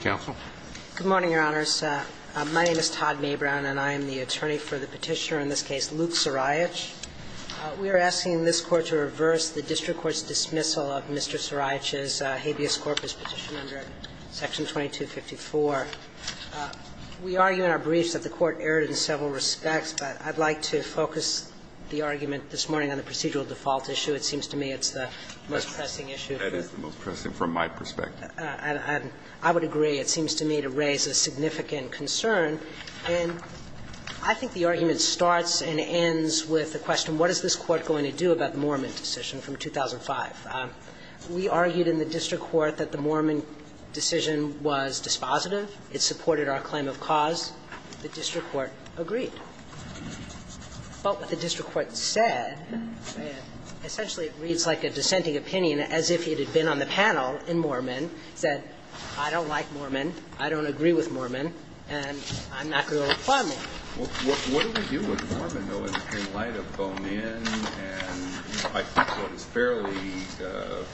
Counsel. Good morning, Your Honors. My name is Todd Mabrown, and I am the attorney for the petitioner in this case, Luke Saraich. We are asking this Court to reverse the district court's dismissal of Mr. Saraich's habeas corpus petition under Section 2254. We argue in our briefs that the Court erred in several respects, but I'd like to focus the argument this morning on the procedural default issue. It seems to me it's the most pressing issue. That is the most pressing from my perspective. And I would agree, it seems to me, to raise a significant concern. And I think the argument starts and ends with the question, what is this Court going to do about the Moorman decision from 2005? We argued in the district court that the Moorman decision was dispositive. It supported our claim of cause. The district court agreed. But what the district court said, essentially it reads like a dissenting opinion as if it had been on the panel in Moorman, said, I don't like Moorman, I don't agree with Moorman, and I'm not going to apply Moorman. Well, what do we do with Moorman, though, in the green light of Bowman, and I think what is fairly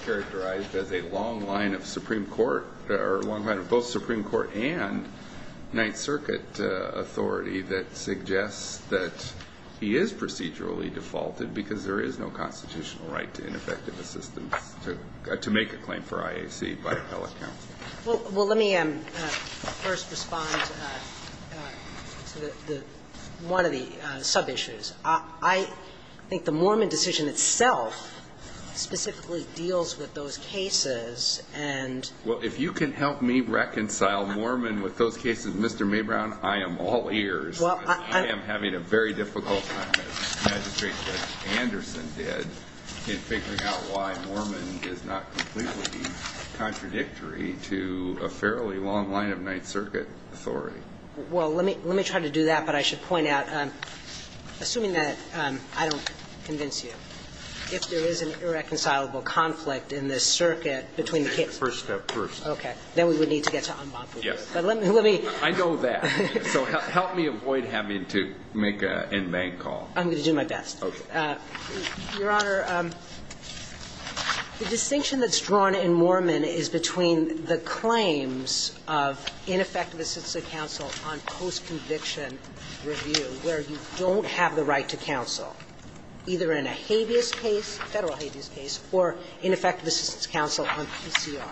characterized as a long line of Supreme Court or a long line of both Supreme Court and Ninth Circuit authority that suggests that he is procedurally defaulted because there is no constitutional right to ineffective assistance to make a claim for IAC by appellate counsel. Well, let me first respond to the one of the sub-issues. I think the Moorman decision itself specifically deals with those cases and Well, if you can help me reconcile Moorman with those cases, Mr. Maybrown, I am all ears. I am having a very difficult time, as Magistrate Judge Anderson did, in figuring out why Moorman does not completely be contradictory to a fairly long line of Ninth Circuit authority. Well, let me try to do that, but I should point out, assuming that I don't convince you, if there is an irreconcilable conflict in this circuit between the cases First step first. Okay. Then we would need to get to en banc. Yes. I know that. So help me avoid having to make an en banc call. I'm going to do my best. Okay. Your Honor, the distinction that's drawn in Moorman is between the claims of ineffective assistance of counsel on post-conviction review, where you don't have the right to counsel, either in a habeas case, Federal habeas case, or ineffective assistance counsel on PCR,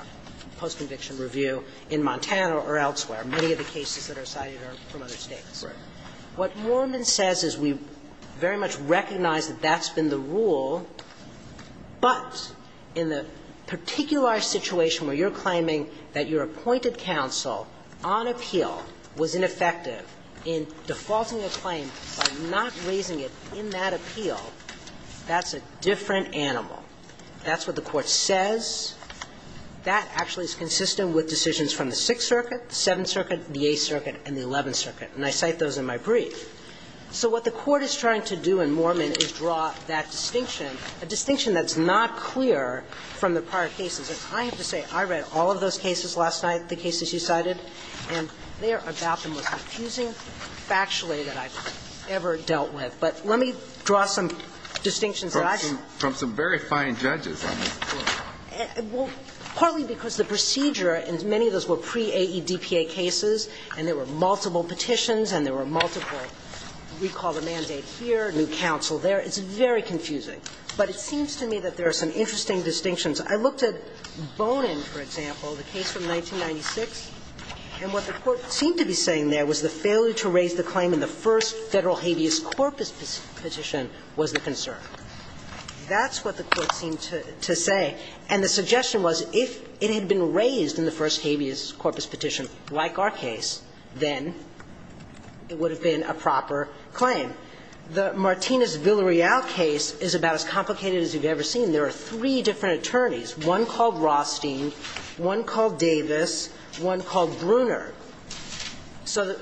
post-conviction review, in Montana or elsewhere. Many of the cases that are cited are from other States. Right. What Moorman says is we very much recognize that that's been the rule, but in the particular situation where you're claiming that your appointed counsel on appeal was ineffective in defaulting a claim by not raising it in that appeal, that's a different animal. That's what the Court says. That actually is consistent with decisions from the Sixth Circuit, the Seventh Circuit, the Eighth Circuit, and the Eleventh Circuit. And I cite those in my brief. So what the Court is trying to do in Moorman is draw that distinction, a distinction that's not clear from the prior cases. And I have to say, I read all of those cases last night, the cases you cited, and they are about the most confusing factually that I've ever dealt with. But let me draw some distinctions that I've seen. And I'm not going to go into the details of that. I'm just going to draw some very fine judges on this Court. Well, partly because the procedure, and many of those were pre-AEDPA cases, and there were multiple petitions and there were multiple recall the mandate here, new counsel there. It's very confusing. But it seems to me that there are some interesting distinctions. I looked at Bonin, for example, the case from 1996, and what the Court seemed to be concerned with is the claim in the first Federal habeas corpus petition was the concern. That's what the Court seemed to say. And the suggestion was if it had been raised in the first habeas corpus petition, like our case, then it would have been a proper claim. The Martinez-Villarreal case is about as complicated as you've ever seen. There are three different attorneys, one called Rothstein, one called Davis, one called Bruner. So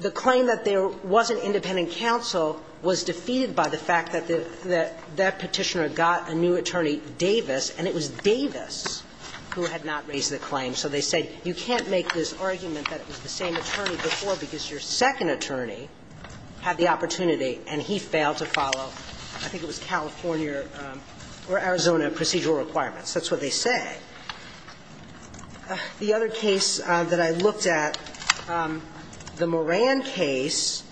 the claim that there was an independent counsel was defeated by the fact that that petitioner got a new attorney, Davis, and it was Davis who had not raised the claim. So they said you can't make this argument that it was the same attorney before because your second attorney had the opportunity and he failed to follow, I think it was California or Arizona procedural requirements. That's what they say. The other case that I looked at, the Moran case,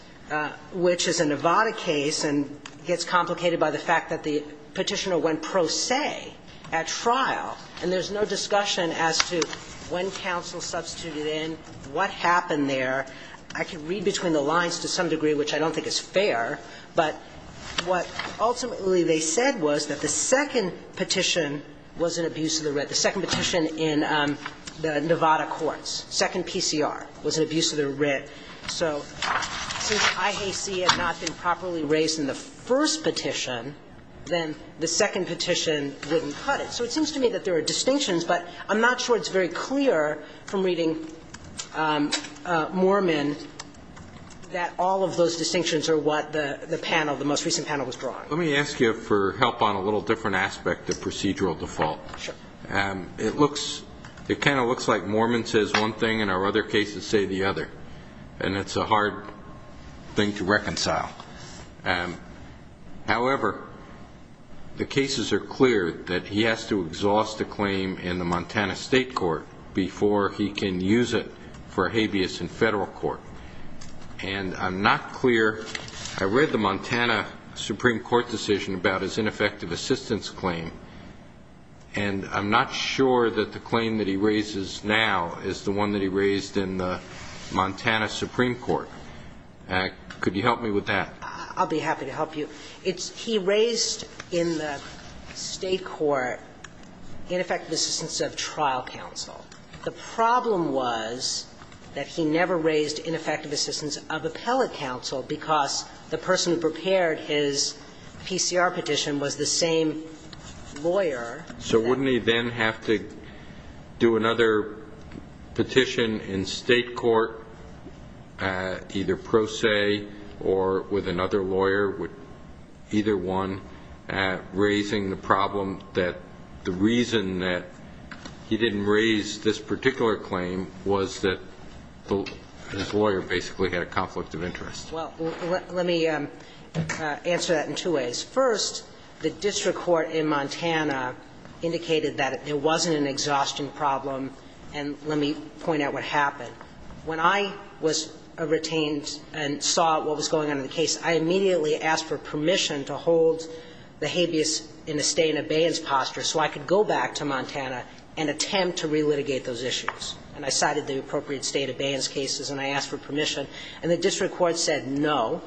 which is a Nevada case and gets complicated by the fact that the petitioner went pro se at trial, and there's no discussion as to when counsel substituted in, what happened there. I can read between the lines to some degree, which I don't think is fair, but what ultimately they said was that the second petition was an abuse of the writ. The second petition in the Nevada courts, second PCR, was an abuse of the writ. So since IAC had not been properly raised in the first petition, then the second petition wouldn't cut it. So it seems to me that there are distinctions, but I'm not sure it's very clear from reading Moorman that all of those distinctions are what the panel, the most recent panel was drawing. Let me ask you for help on a little different aspect of procedural default. Sure. It looks, it kind of looks like Moorman says one thing and our other cases say the other. And it's a hard thing to reconcile. However, the cases are clear that he has to exhaust a claim in the Montana state court before he can use it for habeas in Federal court. And I'm not clear, I read the Montana Supreme Court decision about his ineffective assistance claim, and I'm not sure that the claim that he raises now is the one that he raised in the Montana Supreme Court. Could you help me with that? I'll be happy to help you. He raised in the state court ineffective assistance of trial counsel. The problem was that he never raised ineffective assistance of appellate counsel because the person who prepared his PCR petition was the same lawyer. So wouldn't he then have to do another petition in state court, either pro se or with another lawyer, either one, raising the problem that the reason that he didn't raise this particular claim was that his lawyer basically had a conflict of interest? Well, let me answer that in two ways. First, the district court in Montana indicated that it wasn't an exhaustion problem, and let me point out what happened. When I was retained and saw what was going on in the case, I immediately asked for permission to hold the habeas in the state in abeyance posture so I could go back to Montana and attempt to relitigate those issues. And I cited the appropriate state abeyance cases and I asked for permission. And the district court said no.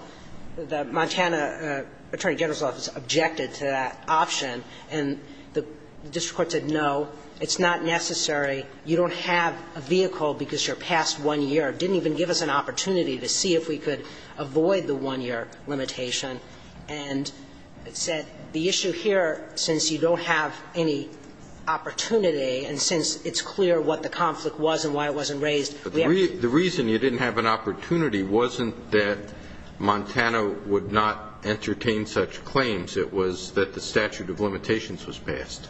The Montana attorney general's office objected to that option, and the district court said no, it's not necessary, you don't have a vehicle because your past one year didn't even give us an opportunity to see if we could avoid the one-year limitation. And said the issue here, since you don't have any opportunity and since it's clear what the conflict was and why it wasn't raised, we have to do it. But the reason you didn't have an opportunity wasn't that Montana would not entertain such claims. It was that the statute of limitations was passed.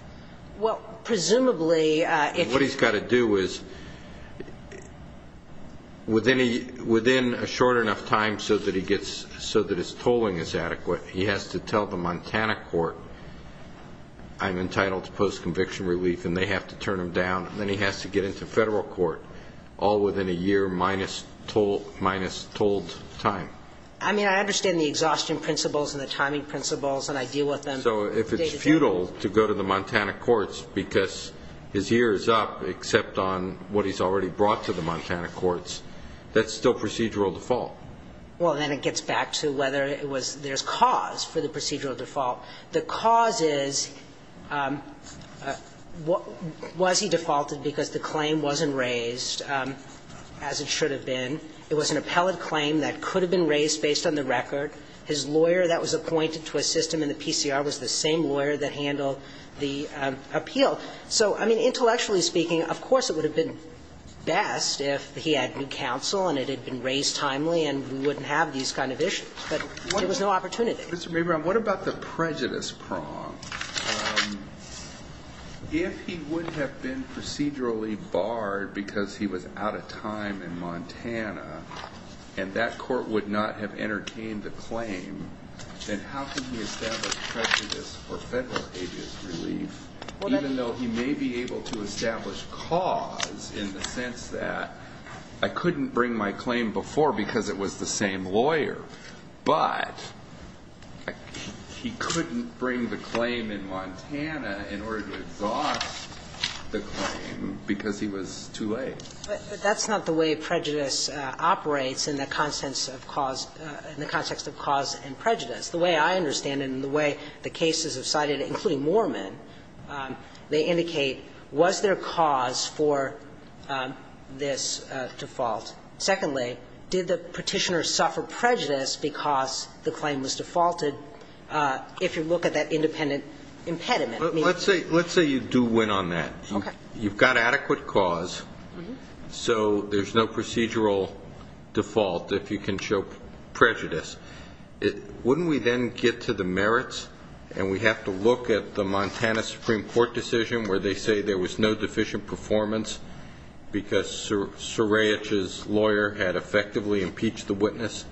Well, presumably, if you're going to do it. What he's got to do is, within a short enough time so that he gets so that his tolling is adequate, he has to tell the Montana court I'm entitled to post-conviction relief and they have to turn him down. And then he has to get into federal court all within a year minus told time. I mean, I understand the exhaustion principles and the timing principles and I deal with them. So if it's futile to go to the Montana courts because his year is up except on what he's already brought to the Montana courts, that's still procedural default. Well, then it gets back to whether it was there's cause for the procedural default. The cause is, was he defaulted because the claim wasn't raised, as it should have been? It was an appellate claim that could have been raised based on the record. His lawyer that was appointed to assist him in the PCR was the same lawyer that handled the appeal. So, I mean, intellectually speaking, of course it would have been best if he had new timely and we wouldn't have these kind of issues, but there was no opportunity. Mr. Mabry, what about the prejudice prong? If he would have been procedurally barred because he was out of time in Montana and that court would not have entertained the claim, then how can he establish prejudice for federal agency relief, even though he may be able to establish cause in the sense that I couldn't bring my claim before because it was the same lawyer, but he couldn't bring the claim in Montana in order to exhaust the claim because he was too late? But that's not the way prejudice operates in the context of cause and prejudice. The way I understand it and the way the cases have cited, including Moorman, they indicate, was there cause for this default? Secondly, did the Petitioner suffer prejudice because the claim was defaulted if you look at that independent impediment? I mean ---- Let's say you do win on that. Okay. You've got adequate cause, so there's no procedural default if you can show prejudice. Wouldn't we then get to the merits and we have to look at the Montana Supreme Court decision where they say there was no deficient performance because Serajic's lawyer had effectively impeached the witness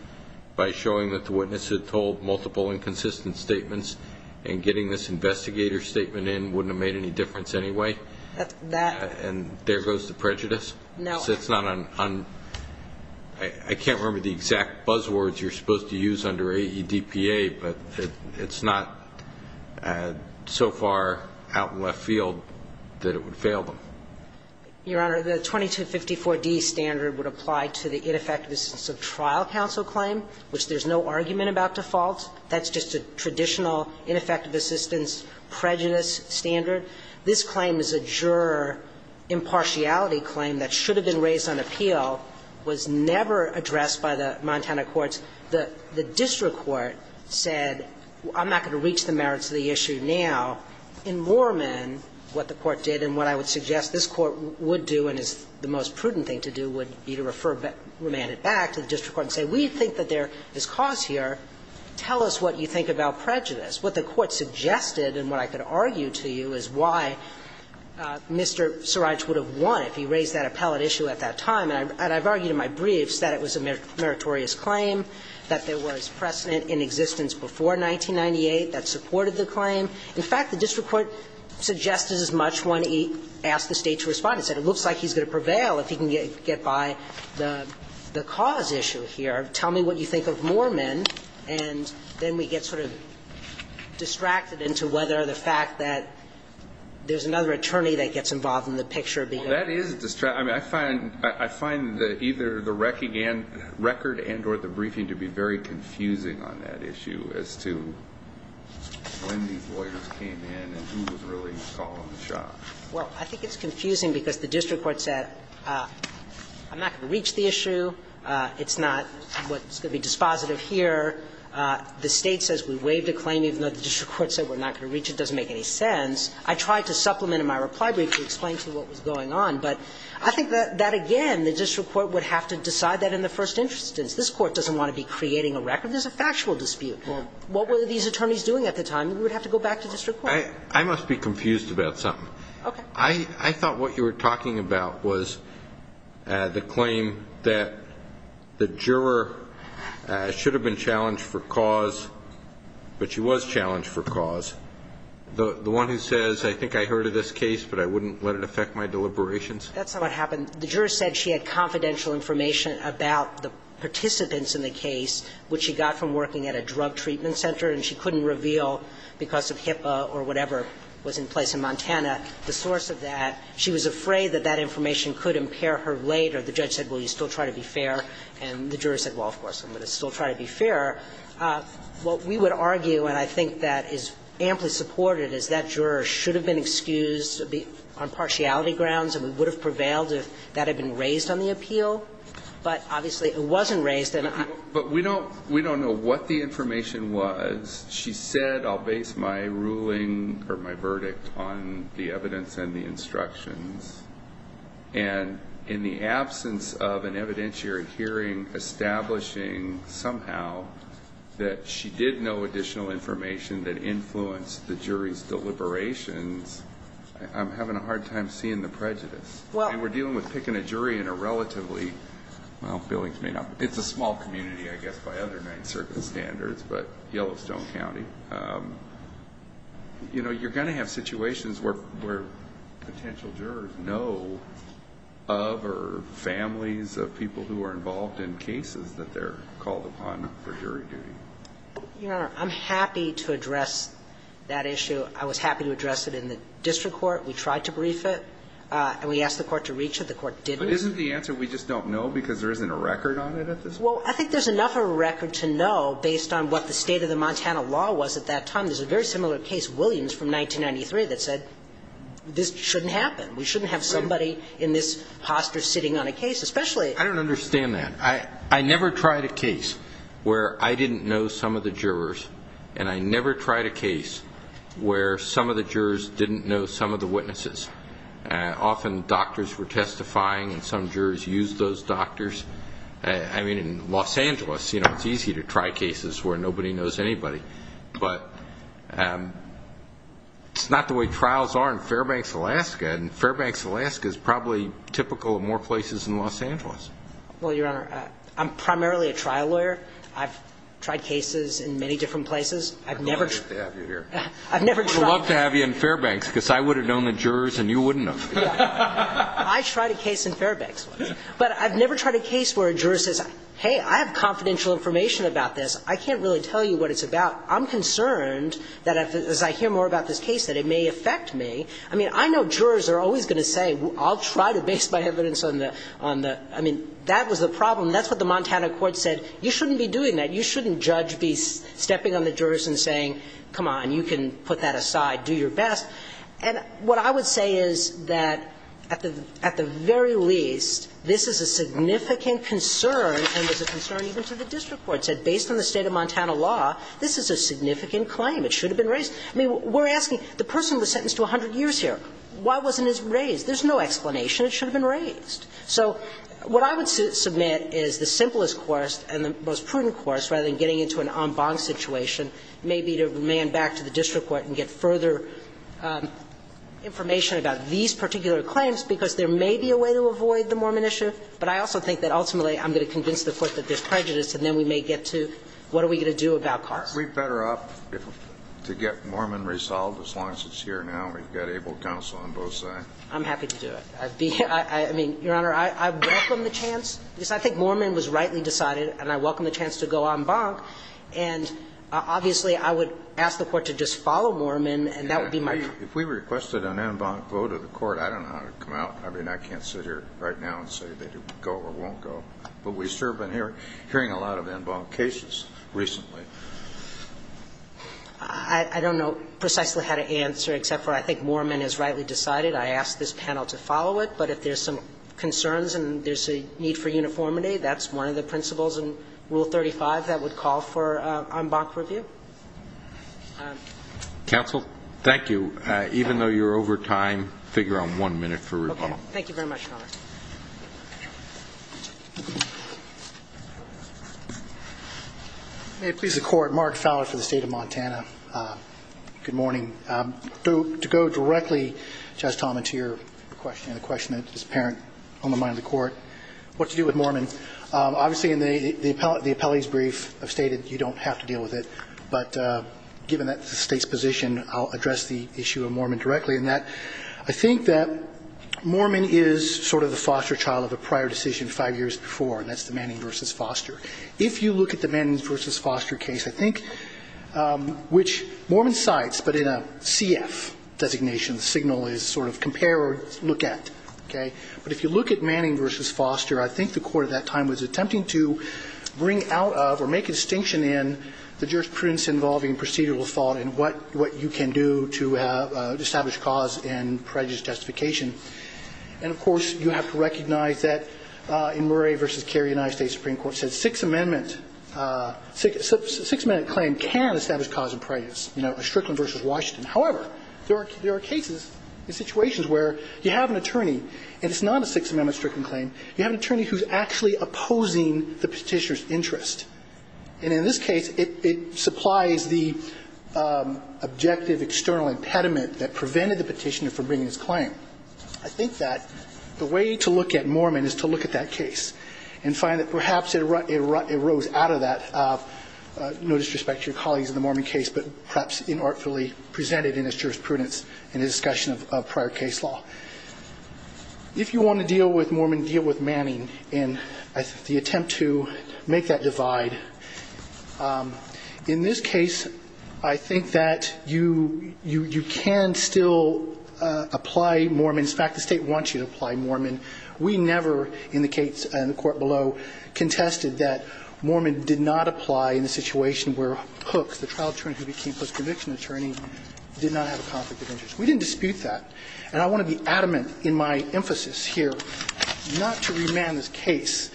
by showing that the witness had told multiple inconsistent statements and getting this investigator's statement in wouldn't have made any difference anyway? That's ---- And there goes the prejudice? No. Well, it's not on ---- I can't remember the exact buzzwords you're supposed to use under AEDPA, but it's not so far out in left field that it would fail them. Your Honor, the 2254d standard would apply to the ineffective assistance of trial counsel claim, which there's no argument about default. That's just a traditional ineffective assistance prejudice standard. This claim is a juror impartiality claim that should have been raised on appeal, was never addressed by the Montana courts. The district court said I'm not going to reach the merits of the issue now. In Moorman, what the court did and what I would suggest this Court would do and is the most prudent thing to do would be to refer Romand it back to the district court and say we think that there is cause here. Tell us what you think about prejudice. What the court suggested and what I could argue to you is why Mr. Sirage would have won if he raised that appellate issue at that time. And I've argued in my briefs that it was a meritorious claim, that there was precedent in existence before 1998 that supported the claim. In fact, the district court suggested as much when he asked the State to respond. It said it looks like he's going to prevail if he can get by the cause issue here. Tell me what you think of Moorman, and then we get sort of distracted into whether or the fact that there's another attorney that gets involved in the picture being heard. Well, that is distracting. I mean, I find the either the record and or the briefing to be very confusing on that issue as to when these lawyers came in and who was really calling the shot. Well, I think it's confusing because the district court said I'm not going to reach the issue. It's not what's going to be dispositive here. The State says we waived a claim even though the district court said we're not going to reach it. It doesn't make any sense. I tried to supplement in my reply brief to explain to you what was going on, but I think that, again, the district court would have to decide that in the first instance. This Court doesn't want to be creating a record. There's a factual dispute. What were these attorneys doing at the time? We would have to go back to district court. I must be confused about something. Okay. I thought what you were talking about was the claim that the juror should have been challenged for cause, but she was challenged for cause. The one who says, I think I heard of this case, but I wouldn't let it affect my deliberations? That's not what happened. The juror said she had confidential information about the participants in the case which she got from working at a drug treatment center and she couldn't reveal because of HIPAA or whatever was in place in Montana, the source of that. She was afraid that that information could impair her later. The judge said, well, you still try to be fair, and the juror said, well, of course, I'm going to still try to be fair. What we would argue, and I think that is amply supported, is that juror should have been excused on partiality grounds and would have prevailed if that had been raised on the appeal. But, obviously, it wasn't raised. But we don't know what the information was. She said, I'll base my ruling or my verdict on the evidence and the instructions. And in the absence of an evidentiary hearing establishing somehow that she did know additional information that influenced the jury's deliberations, I'm having a hard time seeing the prejudice. We're dealing with picking a jury in a relatively, well, it's a small community, I guess, by other Ninth Circuit standards, but Yellowstone County. You know, you're going to have situations where potential jurors know of or families of people who are involved in cases that they're called upon for jury duty. Your Honor, I'm happy to address that issue. I was happy to address it in the district court. We tried to brief it, and we asked the court to reach it. The court didn't. But isn't the answer we just don't know because there isn't a record on it at this There's no record to know based on what the state of the Montana law was at that time. There's a very similar case, Williams from 1993, that said this shouldn't happen. We shouldn't have somebody in this posture sitting on a case, especially ---- I don't understand that. I never tried a case where I didn't know some of the jurors, and I never tried a case where some of the jurors didn't know some of the witnesses. Often doctors were testifying, and some jurors used those doctors. I mean, in Los Angeles, you know, it's easy to try cases where nobody knows anybody. But it's not the way trials are in Fairbanks, Alaska, and Fairbanks, Alaska is probably typical of more places in Los Angeles. Well, Your Honor, I'm primarily a trial lawyer. I've tried cases in many different places. I'd love to have you here. I've never tried. I'd love to have you in Fairbanks because I would have known the jurors, and you wouldn't have. I tried a case in Fairbanks once. But I've never tried a case where a juror says, hey, I have confidential information about this. I can't really tell you what it's about. I'm concerned that as I hear more about this case that it may affect me. I mean, I know jurors are always going to say, I'll try to base my evidence on the ---- I mean, that was the problem. That's what the Montana court said. You shouldn't be doing that. You shouldn't, Judge, be stepping on the jurors and saying, come on, you can put that aside, do your best. And what I would say is that at the very least, this is a significant concern and was a concern even to the district court. It said, based on the state of Montana law, this is a significant claim. It should have been raised. I mean, we're asking, the person was sentenced to 100 years here. Why wasn't it raised? There's no explanation. It should have been raised. So what I would submit is the simplest course and the most prudent course, rather than getting into an en banc situation, may be to remand back to the district court and get further information about these particular claims, because there may be a way to avoid the Mormon issue. But I also think that ultimately, I'm going to convince the court that there's prejudice, and then we may get to what are we going to do about Carlson. We'd better opt to get Mormon resolved as long as it's here now. We've got able counsel on both sides. I'm happy to do it. I mean, Your Honor, I welcome the chance. I think Mormon was rightly decided, and I welcome the chance to go en banc. And obviously, I would ask the Court to just follow Mormon, and that would be my view. If we requested an en banc vote of the Court, I don't know how it would come out. I mean, I can't sit here right now and say that it would go or won't go. But we've certainly been hearing a lot of en banc cases recently. I don't know precisely how to answer, except for I think Mormon is rightly decided. I ask this panel to follow it. But if there's some concerns and there's a need for uniformity, that's one of the Counsel? Thank you. Even though you're over time, figure on one minute for rebuttal. Thank you very much, Your Honor. May it please the Court. Mark Fowler for the State of Montana. Good morning. To go directly, Justice Talmadge, to your question and the question that is apparent on the mind of the Court, what to do with Mormon. Obviously, in the appellee's brief, I've stated you don't have to deal with it. But given that's the State's position, I'll address the issue of Mormon directly in that I think that Mormon is sort of the foster child of a prior decision five years before, and that's the Manning v. Foster. If you look at the Manning v. Foster case, I think which Mormon cites, but in a CF designation, the signal is sort of compare or look at. Okay? But if you look at Manning v. Foster, I think the Court at that time was attempting to bring out of or make a distinction in the jurisprudence involving procedural thought and what you can do to establish cause in prejudice justification. And, of course, you have to recognize that in Murray v. Carey, United States Supreme Court said Sixth Amendment claim can establish cause in prejudice, Strickland v. Washington. However, there are cases and situations where you have an attorney, and it's not a Sixth Amendment Strickland claim. You have an attorney who's actually opposing the Petitioner's interest. And in this case, it supplies the objective external impediment that prevented the Petitioner from bringing his claim. I think that the way to look at Mormon is to look at that case and find that perhaps it arose out of that, no disrespect to your colleagues in the Mormon case, but perhaps inartfully presented in its jurisprudence in a discussion of prior case law. If you want to deal with Mormon, deal with Manning in the attempt to make that divide. In this case, I think that you can still apply Mormon. In fact, the State wants you to apply Mormon. We never, in the case in the Court below, contested that Mormon did not apply in the situation where Hooks, the trial attorney who became post-conviction attorney, did not have a conflict of interest. We didn't dispute that. And I want to be adamant in my emphasis here not to remand this case.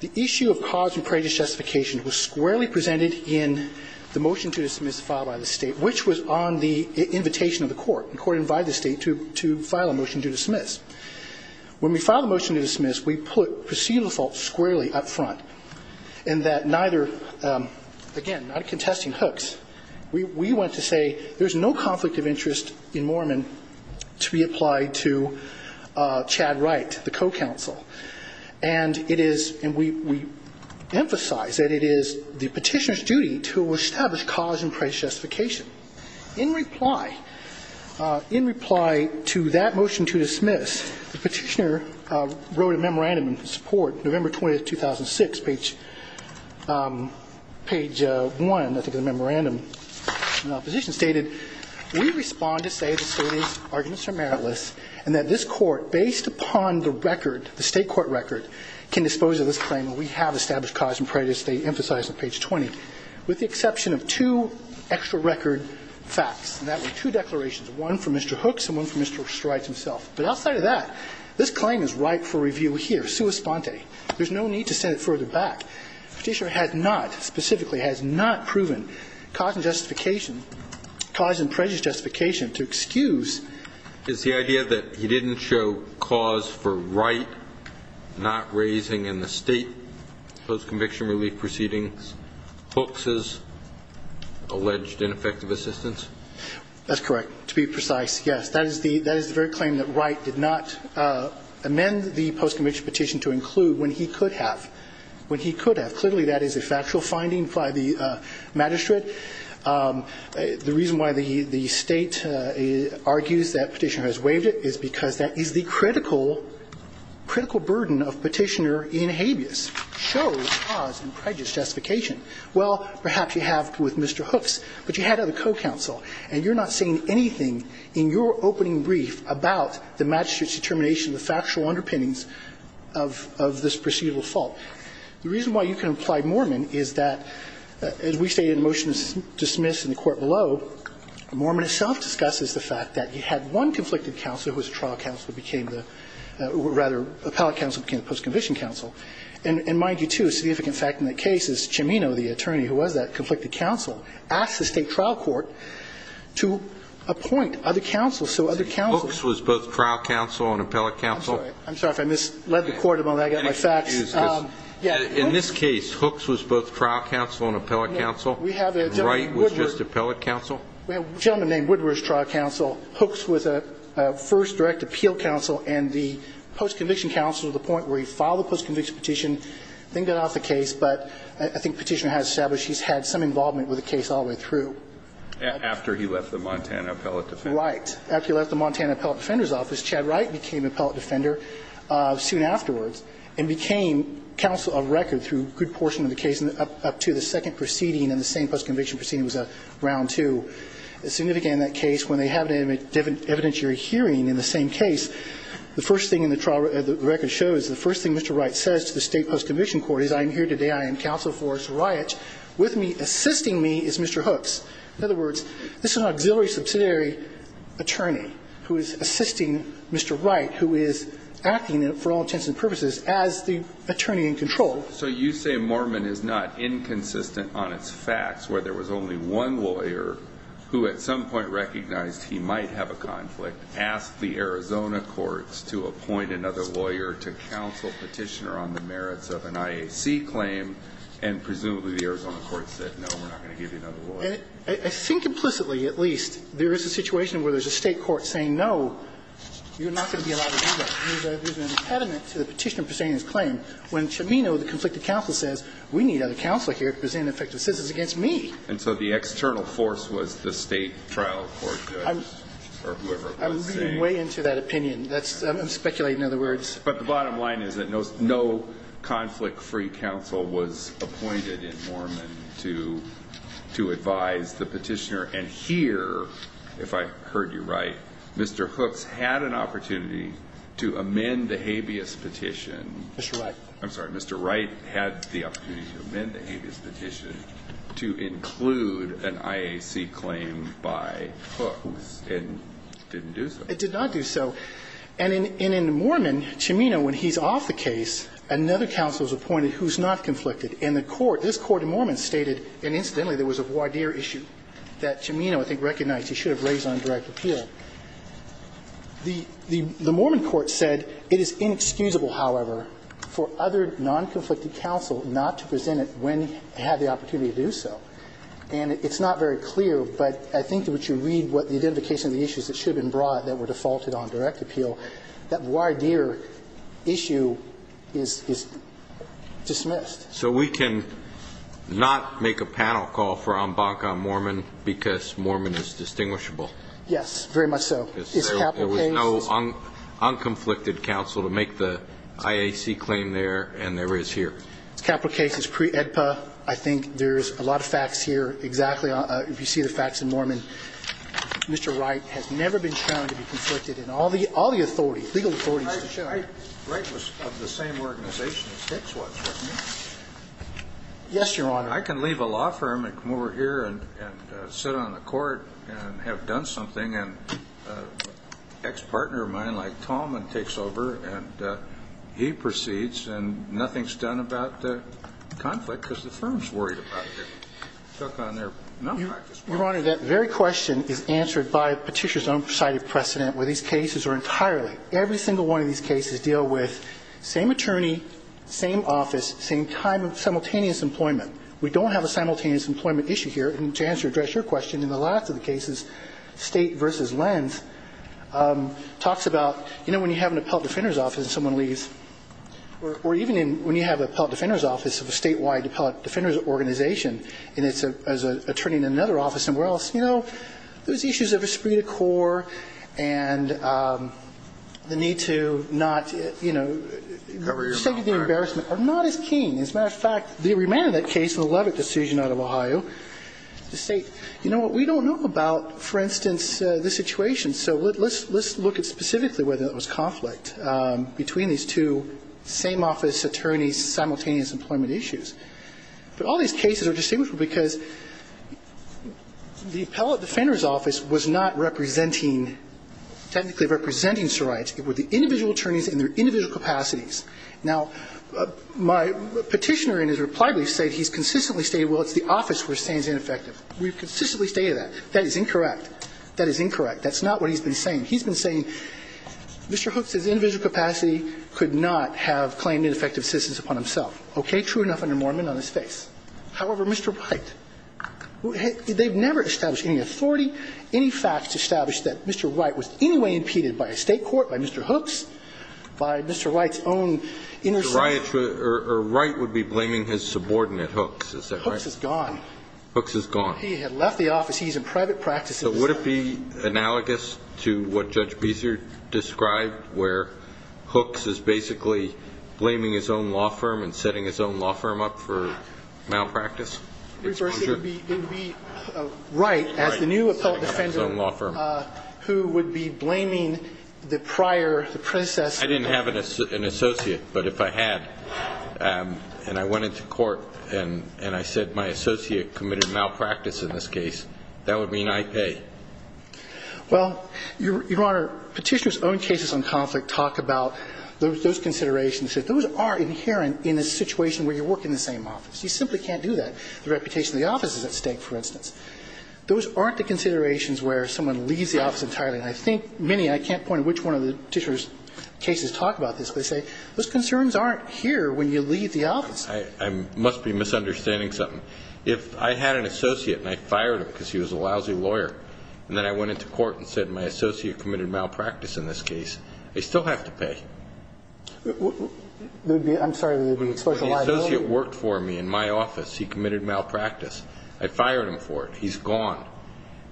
The issue of cause in prejudice justification was squarely presented in the motion to dismiss filed by the State, which was on the invitation of the Court. The Court invited the State to file a motion to dismiss. When we filed the motion to dismiss, we put procedural faults squarely up front in that neither, again, not contesting Hooks, we went to say there's no conflict of interest in Mormon to be applied to Chad Wright, the co-counsel, and it is, and we emphasize that it is the petitioner's duty to establish cause in prejudice justification. In reply, in reply to that motion to dismiss, the petitioner wrote a memorandum in support, November 20, 2006, page one, I think, of the memorandum. The position stated, we respond to say the State's arguments are meritless and that this Court, based upon the record, the State court record, can dispose of this claim and we have established cause in prejudice, they emphasize on page 20, with the exception of two extra record facts, and that were two declarations, one from Mr. Hooks and one from Mr. Wright himself. But outside of that, this claim is ripe for review here, sua sponte. There's no need to send it further back. The petitioner has not, specifically has not proven cause in justification, cause in prejudice justification to excuse. Alito Is the idea that he didn't show cause for Wright not raising in the State post-conviction relief proceedings, Hooks's alleged ineffective assistance? That's correct. To be precise, yes. That is the very claim that Wright did not amend the post-conviction petition to include when he could have, when he could have. Clearly, that is a factual finding by the magistrate. The reason why the State argues that petitioner has waived it is because that is the critical, critical burden of petitioner in habeas. Show cause in prejudice justification. Well, perhaps you have with Mr. Hooks, but you had other co-counsel, and you're not saying anything in your opening brief about the magistrate's determination of the factual underpinnings of this procedural fault. The reason why you can apply Mormon is that, as we say in the motion dismissed in the court below, Mormon itself discusses the fact that you had one conflicted counsel whose trial counsel became the, or rather, appellate counsel became the post-conviction counsel, and mind you, too, a significant fact in the case is Cimino, the attorney who was that conflicted counsel, asked the State trial court to appoint other counsels, so other counsels. Hooks was both trial counsel and appellate counsel. I'm sorry. I'm sorry if I misled the Court about that. I got my facts. In this case, Hooks was both trial counsel and appellate counsel. We have a gentleman named Woodward. Wright was just appellate counsel. We have a gentleman named Woodward as trial counsel. Hooks was a first direct appeal counsel and the post-conviction counsel to the point where he filed the post-conviction petition, then got off the case, but I think Petitioner has established he's had some involvement with the case all the way through. After he left the Montana appellate defense. Right. After he left the Montana appellate defender's office, Chad Wright became appellate defender soon afterwards and became counsel of record through a good portion of the case. When they have an evidentiary hearing in the same case, the first thing in the trial record shows, the first thing Mr. Wright says to the state post-conviction court is I'm here today, I am counsel for Mr. Wright. With me, assisting me is Mr. Hooks. In other words, this is an auxiliary subsidiary attorney who is assisting Mr. Wright, who is acting for all intents and purposes as the attorney in control. So you say Mormon is not inconsistent on its facts where there was only one lawyer who at some point recognized he might have a conflict, asked the Arizona courts to appoint another lawyer to counsel Petitioner on the merits of an IAC claim, and presumably the Arizona courts said no, we're not going to give you another lawyer. I think implicitly, at least, there is a situation where there's a state court saying no, you're not going to be allowed to do that. There's an impediment to the Petitioner presenting his claim. When Chimino, the conflicted counsel, says we need another counselor here to present effective assistance against me. And so the external force was the state trial court judge or whoever it was saying. I'm reading way into that opinion. I'm speculating in other words. But the bottom line is that no conflict-free counsel was appointed in Mormon to advise the Petitioner. And here, if I heard you right, Mr. Hooks had an opportunity to amend the habeas petition. Mr. Wright. I'm sorry. Mr. Wright had the opportunity to amend the habeas petition to include an IAC claim by Hooks and didn't do so. It did not do so. And in Mormon, Chimino, when he's off the case, another counsel is appointed who's not conflicted. And the court, this court in Mormon stated, and incidentally there was a voir dire issue that Chimino, I think, recognized he should have raised on direct appeal. The Mormon court said it is inexcusable, however, for other non-conflicted counsel not to present it when it had the opportunity to do so. And it's not very clear, but I think that what you read, what the identification of the issues that should have been brought that were defaulted on direct appeal, that voir dire issue is dismissed. So we can not make a panel call for en banc on Mormon because Mormon is distinguishable? Yes, very much so. There was no unconflicted counsel to make the IAC claim there and there is here. It's a capital case. It's pre-EDPA. I think there's a lot of facts here. Exactly. If you see the facts in Mormon, Mr. Wright has never been shown to be conflicted in all the authorities, legal authorities. Wright was of the same organization as Hicks was, wasn't he? Yes, Your Honor. I can leave a law firm and come over here and sit on the court and have done something and an ex-partner of mine like Tallman takes over and he proceeds and nothing's done about the conflict because the firm's worried about it. Your Honor, that very question is answered by Petitioner's own cited precedent where these cases are entirely, every single one of these cases deal with same attorney, same office, same time of simultaneous employment. We don't have a simultaneous employment issue here. And to address your question, in the last of the cases, State v. Lenz talks about, you know, when you have an appellate defender's office and someone leaves or even when you have an appellate defender's office of a statewide appellate defender's organization and it's an attorney in another office somewhere else, you know, there's issues of esprit de corps and the need to not, you know, the state of the embarrassment are not as keen. As a matter of fact, the remand of that case in the Levitt decision out of Ohio, the state, you know what, we don't know about, for instance, the situation, so let's look at specifically whether there was conflict between these two same office attorneys' simultaneous employment issues. But all these cases are distinguished because the appellate defender's office was not representing, technically representing, Mr. Wright, it was the individual attorneys in their individual capacities. Now, my petitioner in his reply brief said he's consistently stated, well, it's the office we're saying is ineffective. We've consistently stated that. That is incorrect. That is incorrect. That's not what he's been saying. He's been saying Mr. Hooks' individual capacity could not have claimed ineffective assistance upon himself. Okay, true enough under Mormon on his face. However, Mr. Wright, they've never established any authority, any facts to establish that Mr. Wright was in any way impeded by a State court, by Mr. Hooks, by Mr. Wright's own intercession. Mr. Wright would be blaming his subordinate, Hooks, is that right? Hooks is gone. Hooks is gone. He had left the office. He's in private practice. So would it be analogous to what Judge Beeser described where Hooks is basically blaming his own law firm and setting his own law firm up for malpractice? It would be right as the new appellate defender who would be blaming the prior, the predecessor. I didn't have an associate. But if I had and I went into court and I said my associate committed malpractice in this case, that would mean I pay. Well, Your Honor, Petitioner's own cases on conflict talk about those considerations. Those are inherent in a situation where you work in the same office. You simply can't do that. The reputation of the office is at stake, for instance. Those aren't the considerations where someone leaves the office entirely. And I think many, I can't point to which one of the Petitioner's cases talk about this, but they say those concerns aren't here when you leave the office. I must be misunderstanding something. If I had an associate and I fired him because he was a lousy lawyer and then I went into court and said my associate committed malpractice in this case, I still have to pay. I'm sorry. The associate worked for me in my office. He committed malpractice. I fired him for it. He's gone.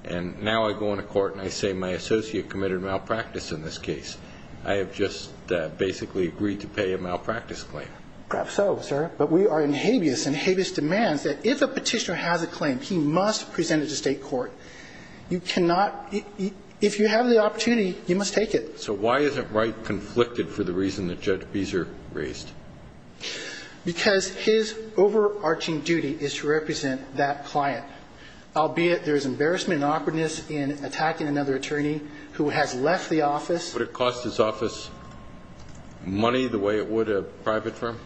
And now I go into court and I say my associate committed malpractice in this case. I have just basically agreed to pay a malpractice claim. Perhaps so, sir. But we are in habeas and habeas demands that if a Petitioner has a claim, he must present it to state court. You cannot, if you have the opportunity, you must take it. So why isn't Wright conflicted for the reason that Judge Beezer raised? Because his overarching duty is to represent that client. Albeit there is embarrassment and awkwardness in attacking another attorney who has left the office. Would it cost his office money the way it would a private firm?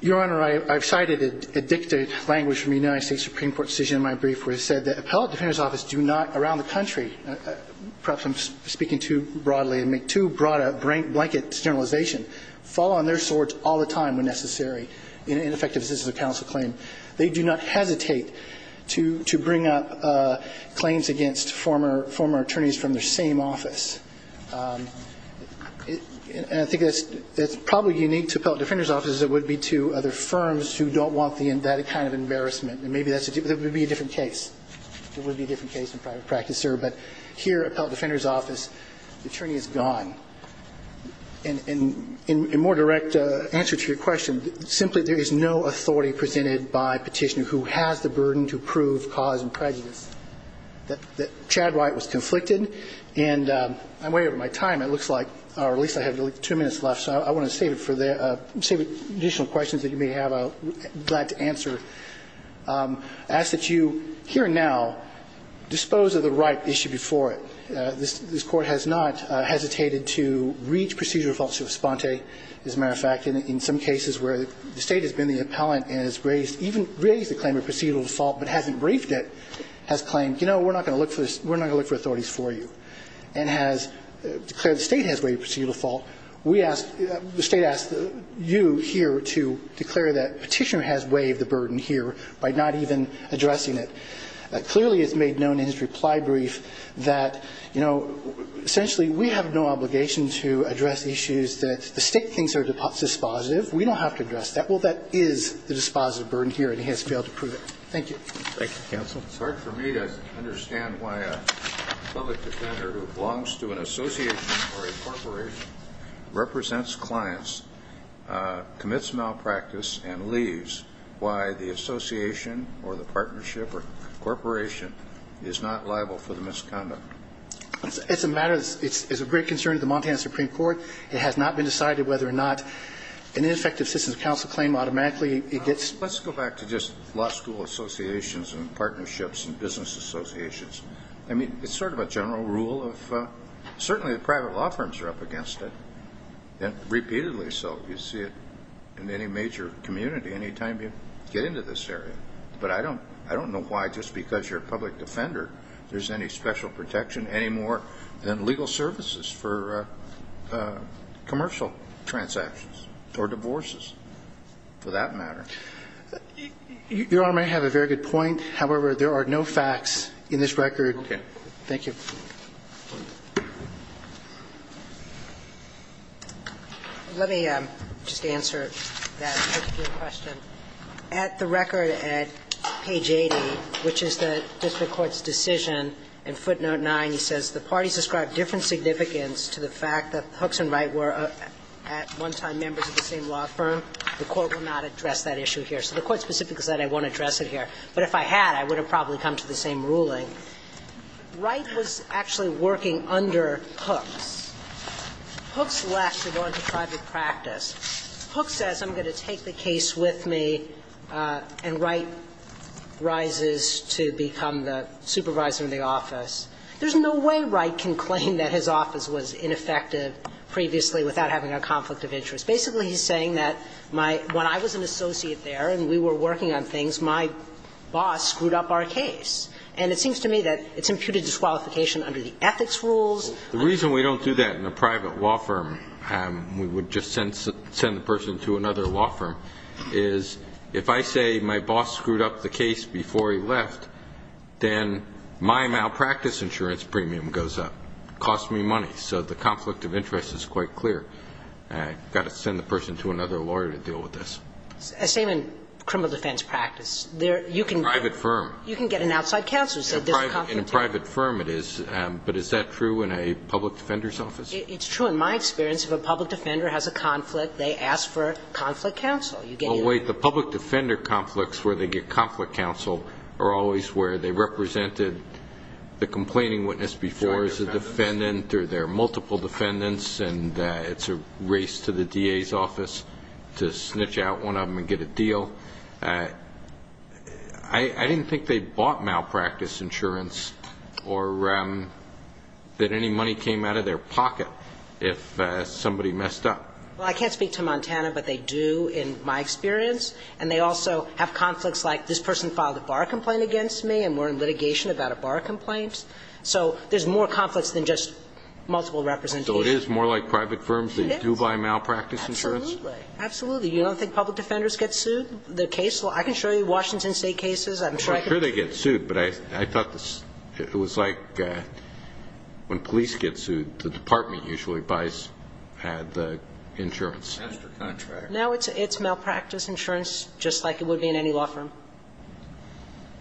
Your Honor, I've cited a dictated language from the United States Supreme Court decision in my brief where it said that appellate defenders' offices do not, around the country, perhaps I'm speaking too broadly, I make too broad a blanket generalization, fall on their swords all the time when necessary in effective assistance of counsel claim. They do not hesitate to bring up claims against former attorneys from their same office. And I think that's probably unique to appellate defenders' offices as it would be to other firms who don't want that kind of embarrassment. And maybe that would be a different case. It would be a different case in private practice, sir. But here, appellate defenders' office, the attorney is gone. And in more direct answer to your question, simply there is no authority presented by petitioner who has the burden to prove cause and prejudice. Chad Wright was conflicted. And I'm way over my time. It looks like, or at least I have two minutes left, so I want to save it for the additional questions that you may have. I'm glad to answer. I ask that you, here and now, dispose of the ripe issue before it. This Court has not hesitated to reach procedural defaults of esponte. As a matter of fact, in some cases where the State has been the appellant and has raised the claim of procedural default but hasn't briefed it, has claimed, you know, we're not going to look for authorities for you, and has declared the State has waived procedural default. We ask, the State asks you here to declare that petitioner has waived the burden here by not even addressing it. Clearly it's made known in his reply brief that, you know, essentially we have no obligation to address issues that the State thinks are dispositive. We don't have to address that. Well, that is the dispositive burden here, and he has failed to prove it. Thank you. Thank you, counsel. It's hard for me to understand why a public defender who belongs to an association or a corporation represents clients, commits malpractice, and leaves, why the association or the partnership or corporation is not liable for the misconduct. It's a matter that's of great concern to the Montana Supreme Court. It has not been decided whether or not an ineffective system of counsel claim automatically it gets ---- Let's go back to just law school associations and partnerships and business associations. I mean, it's sort of a general rule of ---- Certainly the private law firms are up against it, and repeatedly so. You see it in any major community any time you get into this area. But I don't know why just because you're a public defender there's any special protection, any more than legal services for commercial transactions or divorces, for that matter. Your Honor, may I have a very good point? However, there are no facts in this record. Okay. Thank you. Let me just answer that question. At the record at page 80, which is the district court's decision in footnote 9, he says, The parties describe different significance to the fact that Hooks and Wright were at one time members of the same law firm. The Court will not address that issue here. So the Court specifically said it won't address it here. But if I had, I would have probably come to the same ruling. Wright was actually working under Hooks. Hooks left to go into private practice. Hooks says, I'm going to take the case with me. And Wright rises to become the supervisor of the office. There's no way Wright can claim that his office was ineffective previously without having a conflict of interest. Basically, he's saying that my – when I was an associate there and we were working on things, my boss screwed up our case. And it seems to me that it's imputed disqualification under the ethics rules. The reason we don't do that in a private law firm, we would just send the person to another law firm, is if I say my boss screwed up the case before he left, then my malpractice insurance premium goes up. It costs me money. So the conflict of interest is quite clear. I've got to send the person to another lawyer to deal with this. Same in criminal defense practice. Private firm. You can get an outside counsel. In a private firm, it is. But is that true in a public defender's office? It's true in my experience. If a public defender has a conflict, they ask for conflict counsel. Well, wait. The public defender conflicts where they get conflict counsel are always where they represented the complaining witness before as a defendant or there are multiple defendants and it's a race to the DA's office to snitch out one of them and get a deal. I didn't think they bought malpractice insurance or that any money came out of their pocket if somebody messed up. Well, I can't speak to Montana, but they do in my experience. And they also have conflicts like this person filed a bar complaint against me and we're in litigation about a bar complaint. So there's more conflicts than just multiple representatives. So it is more like private firms that do buy malpractice insurance? Absolutely. You don't think public defenders get sued? I can show you Washington State cases. I'm sure they get sued, but I thought it was like when police get sued, the department usually buys and has the insurance. Now it's malpractice insurance just like it would be in any law firm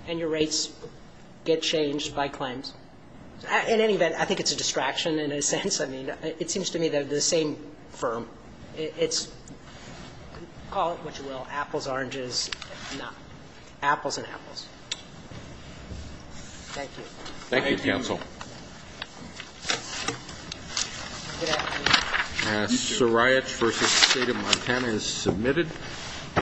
and your rates get changed by claims. In any event, I think it's a distraction in a sense. I mean, it seems to me they're the same firm. It's call it what you will. Apples, oranges. No. Apples and apples. Thank you. Thank you, counsel. Good afternoon. Sorayich v. State of Montana is submitted.